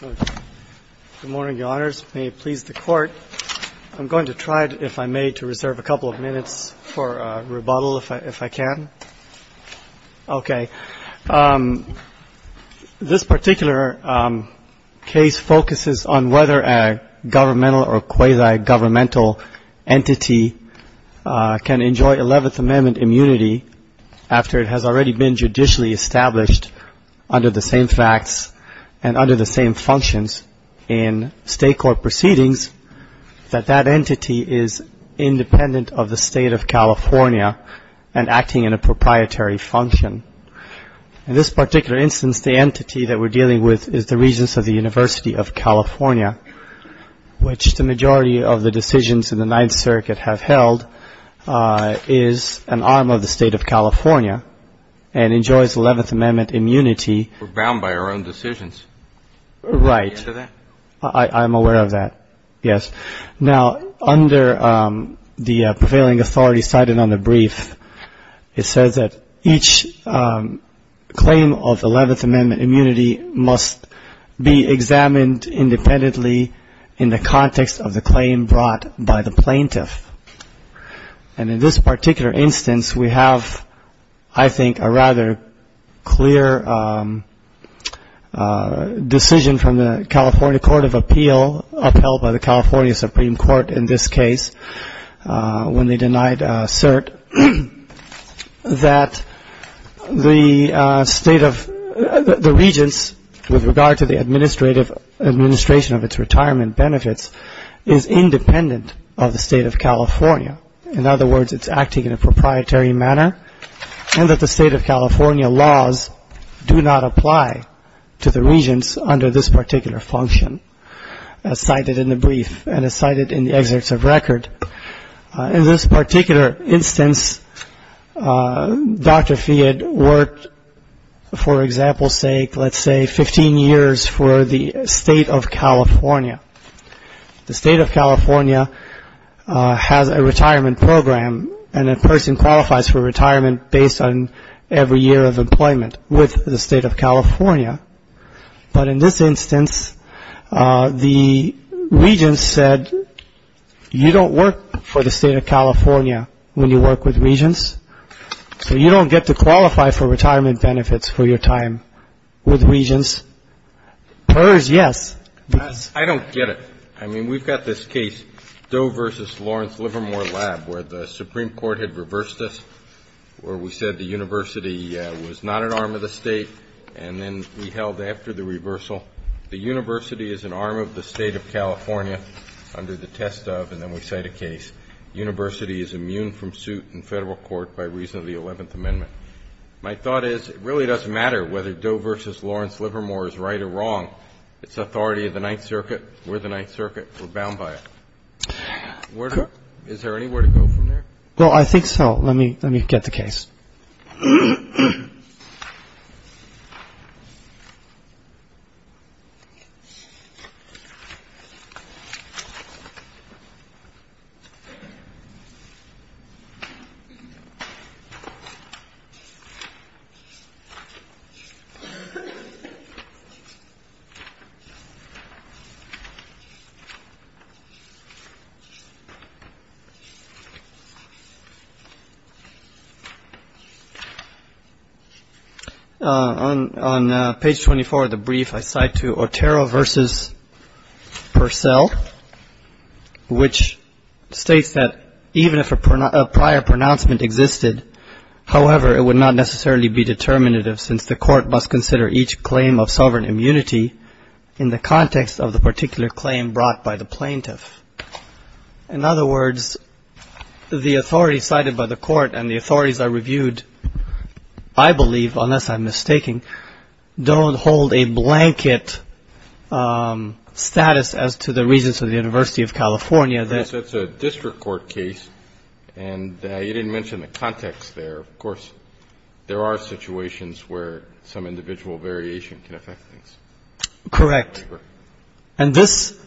Good morning, Your Honors. May it please the Court. I'm going to try, if I may, to reserve a couple of minutes for rebuttal, if I can. Okay. This particular case focuses on whether a governmental or quasi-governmental entity can enjoy Eleventh Amendment immunity after it has already been judicially established under the same facts and under the same functions in state court proceedings that that entity is independent of the State of California and acting in a proprietary function. In this particular instance, the entity that we're dealing with is the Regents of the University of California, which the majority of the decisions in the Ninth Circuit have held is an arm of the State of California and enjoys Eleventh Amendment immunity. We're bound by our own decisions. Right. Are you aware of that? I'm aware of that, yes. Now, under the prevailing authority cited on the brief, it says that each claim of Eleventh Amendment immunity must be examined independently in the context of the claim brought by the plaintiff. And in this particular instance, we have, I think, a rather clear decision from the California Court of Appeal, upheld by the California Supreme Court in this case, when they denied cert, that the State of the Regents, with regard to the administration of its retirement benefits, is independent of the State of California. In other words, it's acting in a proprietary manner and that the State of California laws do not apply to the Regents under this particular function, as cited in the brief and as cited in the excerpts of record. In this particular instance, Dr. Fiad worked, for example's sake, let's say 15 years for the State of California. The State of California has a retirement program and a person qualifies for retirement based on every year of employment with the State of California. But in this instance, the Regents said, you don't work for the State of California when you work with Regents, so you don't get to qualify for retirement benefits for your time with Regents. PERS, yes. I don't get it. I mean, we've got this case, Doe v. Lawrence Livermore Lab, where the Supreme Court had reversed us, where we said the university was not an arm of the State and then we held after the reversal. The university is an arm of the State of California under the test of, and then we cite a case, university is immune from suit in federal court by reason of the 11th Amendment. My thought is it really doesn't matter whether Doe v. Lawrence Livermore is right or wrong. It's authority of the Ninth Circuit. We're the Ninth Circuit. We're bound by it. Is there anywhere to go from there? Well, I think so. Let me get the case. On page 24 of the brief, I cite Otero v. Purcell, which states that even if a prior pronouncement existed, however, it would not necessarily be determinative since the court must consider each claim of sovereign immunity in the context of the particular claim brought by the plaintiff. In other words, the authority cited by the court and the authorities I reviewed, I believe, unless I'm mistaken, don't hold a blanket status as to the reasons for the University of California. It's a district court case, and you didn't mention the context there. Of course, there are situations where some individual variation can affect things. Correct. And this,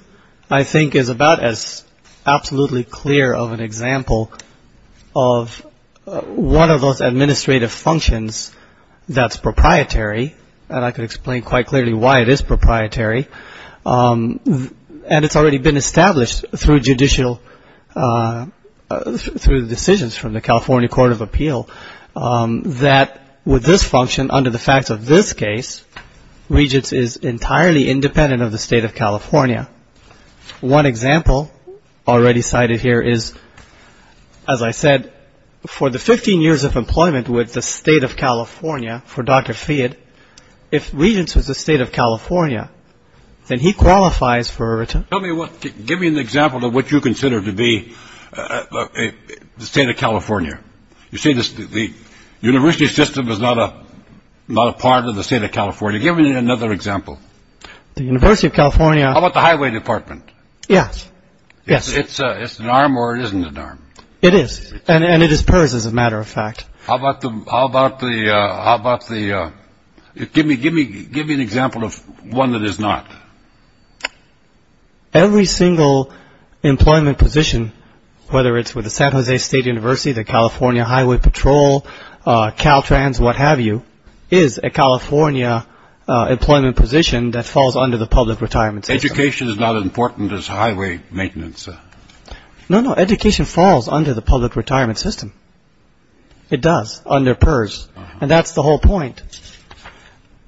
I think, is about as absolutely clear of an example of one of those administrative functions that's proprietary, and I could explain quite clearly why it is proprietary. And it's already been established through judicial, through decisions from the California Court of Appeal, that with this function, under the facts of this case, Regents is entirely independent of the State of California. One example already cited here is, as I said, for the 15 years of employment with the State of California, for Dr. Fiat, if Regents was the State of California, then he qualifies for a return. Give me an example of what you consider to be the State of California. You say the university system is not a part of the State of California. Give me another example. The University of California. How about the highway department? Yes, yes. It's an arm or it isn't an arm. It is, and it is PERS, as a matter of fact. How about the – give me an example of one that is not. Every single employment position, whether it's with the San Jose State University, the California Highway Patrol, Caltrans, what have you, is a California employment position that falls under the public retirement system. Education is not as important as highway maintenance. No, no. Education falls under the public retirement system. It does, under PERS. And that's the whole point.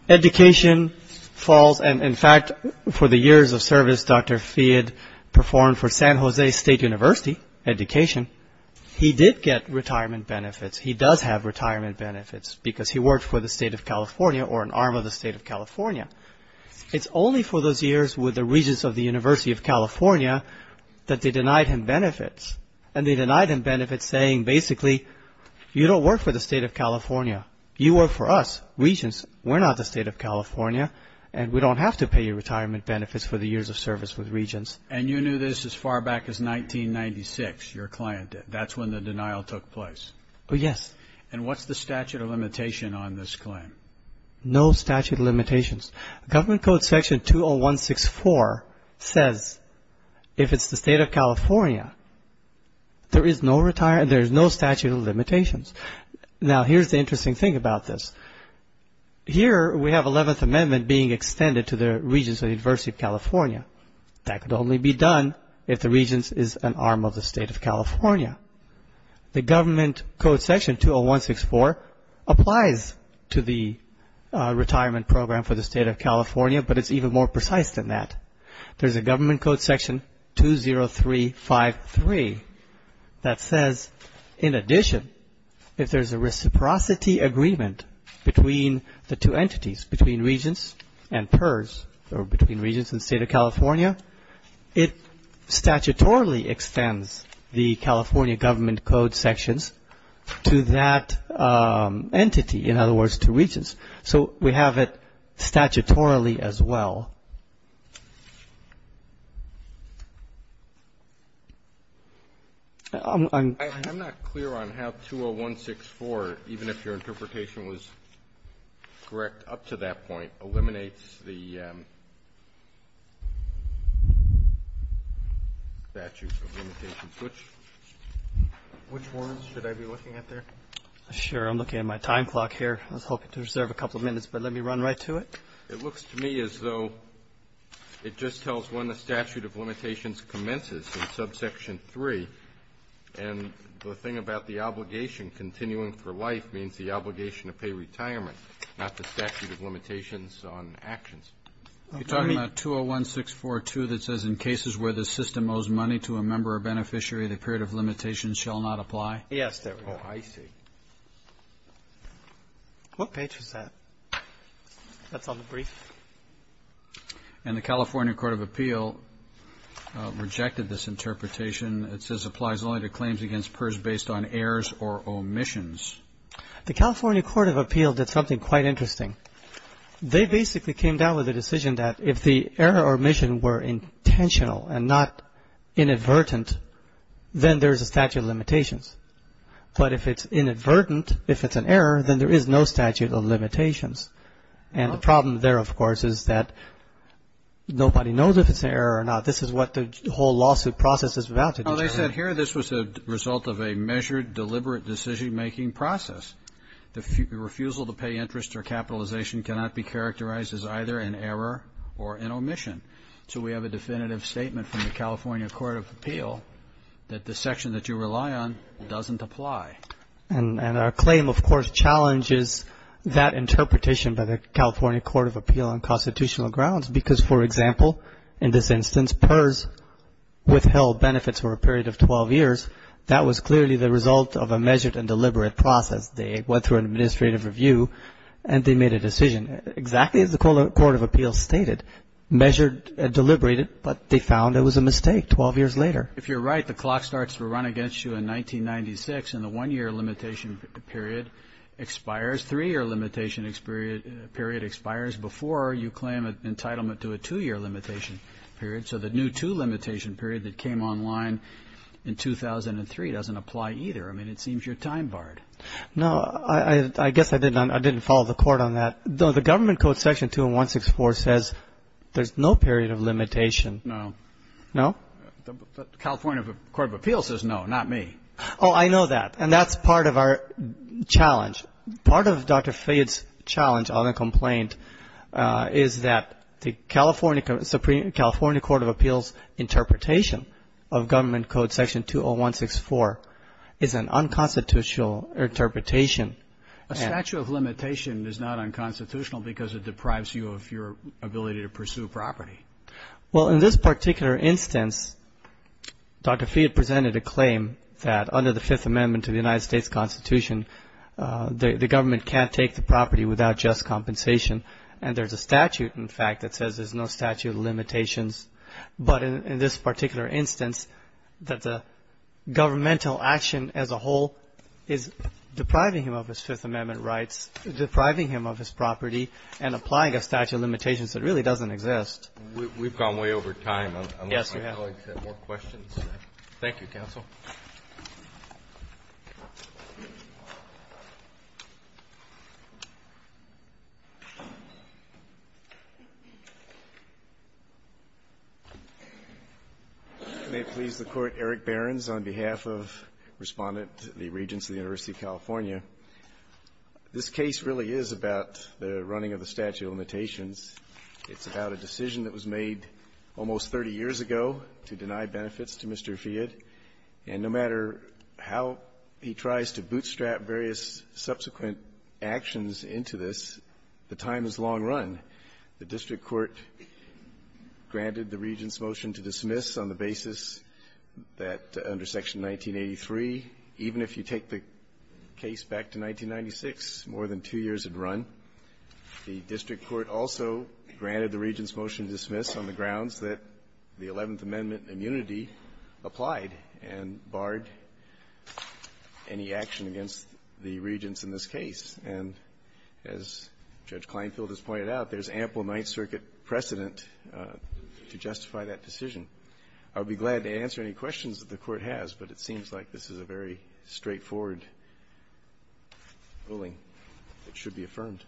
Education falls – and, in fact, for the years of service Dr. Fiat performed for San Jose State University, education, he did get retirement benefits. He does have retirement benefits because he worked for the State of California or an arm of the State of California. It's only for those years with the Regents of the University of California that they denied him benefits. And they denied him benefits saying, basically, you don't work for the State of California. You work for us, Regents. We're not the State of California, and we don't have to pay you retirement benefits for the years of service with Regents. And you knew this as far back as 1996, your client did. That's when the denial took place. Oh, yes. And what's the statute of limitation on this claim? No statute of limitations. Government Code Section 20164 says if it's the State of California, there is no statute of limitations. Now, here's the interesting thing about this. Here we have 11th Amendment being extended to the Regents of the University of California. That could only be done if the Regents is an arm of the State of California. The Government Code Section 20164 applies to the retirement program for the State of California, but it's even more precise than that. There's a Government Code Section 20353 that says, in addition, if there's a reciprocity agreement between the two entities, between Regents and PERS, or between Regents and State of California, it statutorily extends the California Government Code sections to that entity, in other words, to Regents. So we have it statutorily as well. I'm not clear on how 20164, even if your interpretation was correct up to that point, eliminates the statute of limitations. Which one should I be looking at there? Sure. I'm looking at my time clock here. I was hoping to reserve a couple of minutes, but let me run right to it. It looks to me as though it just tells when the statute of limitations commences in subsection 3, and the thing about the obligation continuing for life means the obligation to pay retirement, not the statute of limitations on actions. You're talking about 201642 that says, in cases where the system owes money to a member or beneficiary, the period of limitations shall not apply? Yes, there we go. Oh, I see. What page was that? That's on the brief. And the California Court of Appeal rejected this interpretation. It says applies only to claims against PERS based on errors or omissions. The California Court of Appeal did something quite interesting. They basically came down with a decision that if the error or omission were intentional and not inadvertent, then there is a statute of limitations. But if it's inadvertent, if it's an error, then there is no statute of limitations. And the problem there, of course, is that nobody knows if it's an error or not. This is what the whole lawsuit process is about. Well, they said here this was a result of a measured, deliberate decision-making process. The refusal to pay interest or capitalization cannot be characterized as either an error or an omission. So we have a definitive statement from the California Court of Appeal that the section that you rely on doesn't apply. And our claim, of course, challenges that interpretation by the California Court of Appeal on constitutional grounds because, for example, in this instance, PERS withheld benefits for a period of 12 years. That was clearly the result of a measured and deliberate process. They went through an administrative review and they made a decision. Exactly as the Court of Appeal stated, measured and deliberated, but they found it was a mistake 12 years later. If you're right, the clock starts to run against you in 1996 and the one-year limitation period expires. Three-year limitation period expires before you claim entitlement to a two-year limitation period. So the new two-limitation period that came online in 2003 doesn't apply either. I mean, it seems you're time-barred. No, I guess I didn't follow the court on that. The government code section 20164 says there's no period of limitation. No. No? The California Court of Appeal says no, not me. Oh, I know that. And that's part of our challenge. Part of Dr. Fayette's challenge on the complaint is that the California Supreme – California Court of Appeal's interpretation of government code section 20164 is an unconstitutional interpretation. A statute of limitation is not unconstitutional because it deprives you of your ability to pursue property. Well, in this particular instance, Dr. Fayette presented a claim that under the Fifth Amendment to the United States Constitution, the government can't take the property without just compensation. And there's a statute, in fact, that says there's no statute of limitations. But in this particular instance, that the governmental action as a whole is depriving him of his Fifth Amendment rights, depriving him of his property, and applying a statute of limitations that really doesn't exist. We've gone way over time. Yes, we have. If colleagues have more questions. Thank you, counsel. May it please the Court. Eric Behrens on behalf of Respondent Lee Regents of the University of California. This case really is about the running of the statute of limitations. It's about a decision that was made almost 30 years ago to deny benefits to Mr. Fayette. And no matter how he tries to bootstrap various subsequent actions into this, the time is long run. The district court granted the Regents' motion to dismiss on the basis that under Section 1983, even if you take the case back to 1996, more than two years had run. The district court also granted the Regents' motion to dismiss on the grounds that the Eleventh Amendment immunity applied and barred any action against the Regents in this case. And as Judge Kleinfeld has pointed out, there's ample Ninth Circuit precedent to justify that decision. I would be glad to answer any questions that the Court has, but it seems like this is a very straightforward ruling that should be affirmed.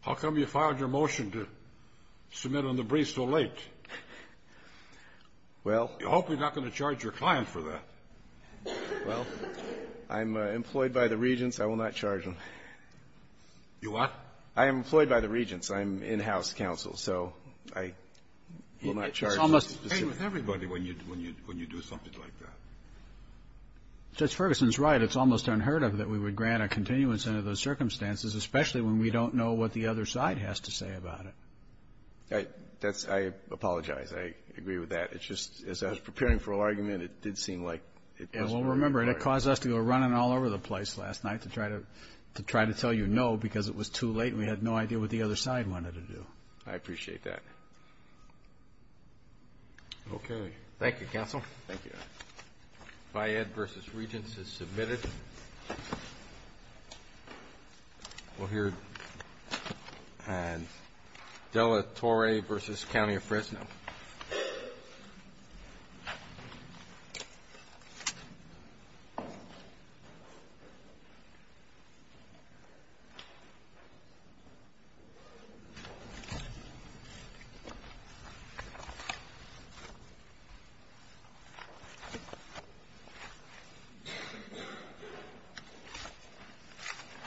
How come you filed your motion to submit on the brief so late? Well — You hope you're not going to charge your client for that. Well, I'm employed by the Regents. I will not charge them. You what? I am employed by the Regents. I'm in-house counsel. So I will not charge them specifically. It's almost the same with everybody when you do something like that. Judge Ferguson's right. It's almost unheard of that we would grant a continuance under those circumstances, especially when we don't know what the other side has to say about it. That's — I apologize. I agree with that. It's just, as I was preparing for argument, it did seem like — Well, remember, it caused us to go running all over the place last night to try to tell you no because it was too late and we had no idea what the other side wanted to do. I appreciate that. Okay. Thank you, counsel. Thank you. Bi-Ed versus Regents is submitted. We'll hear Dela Torre versus County of Fresno. Thank you.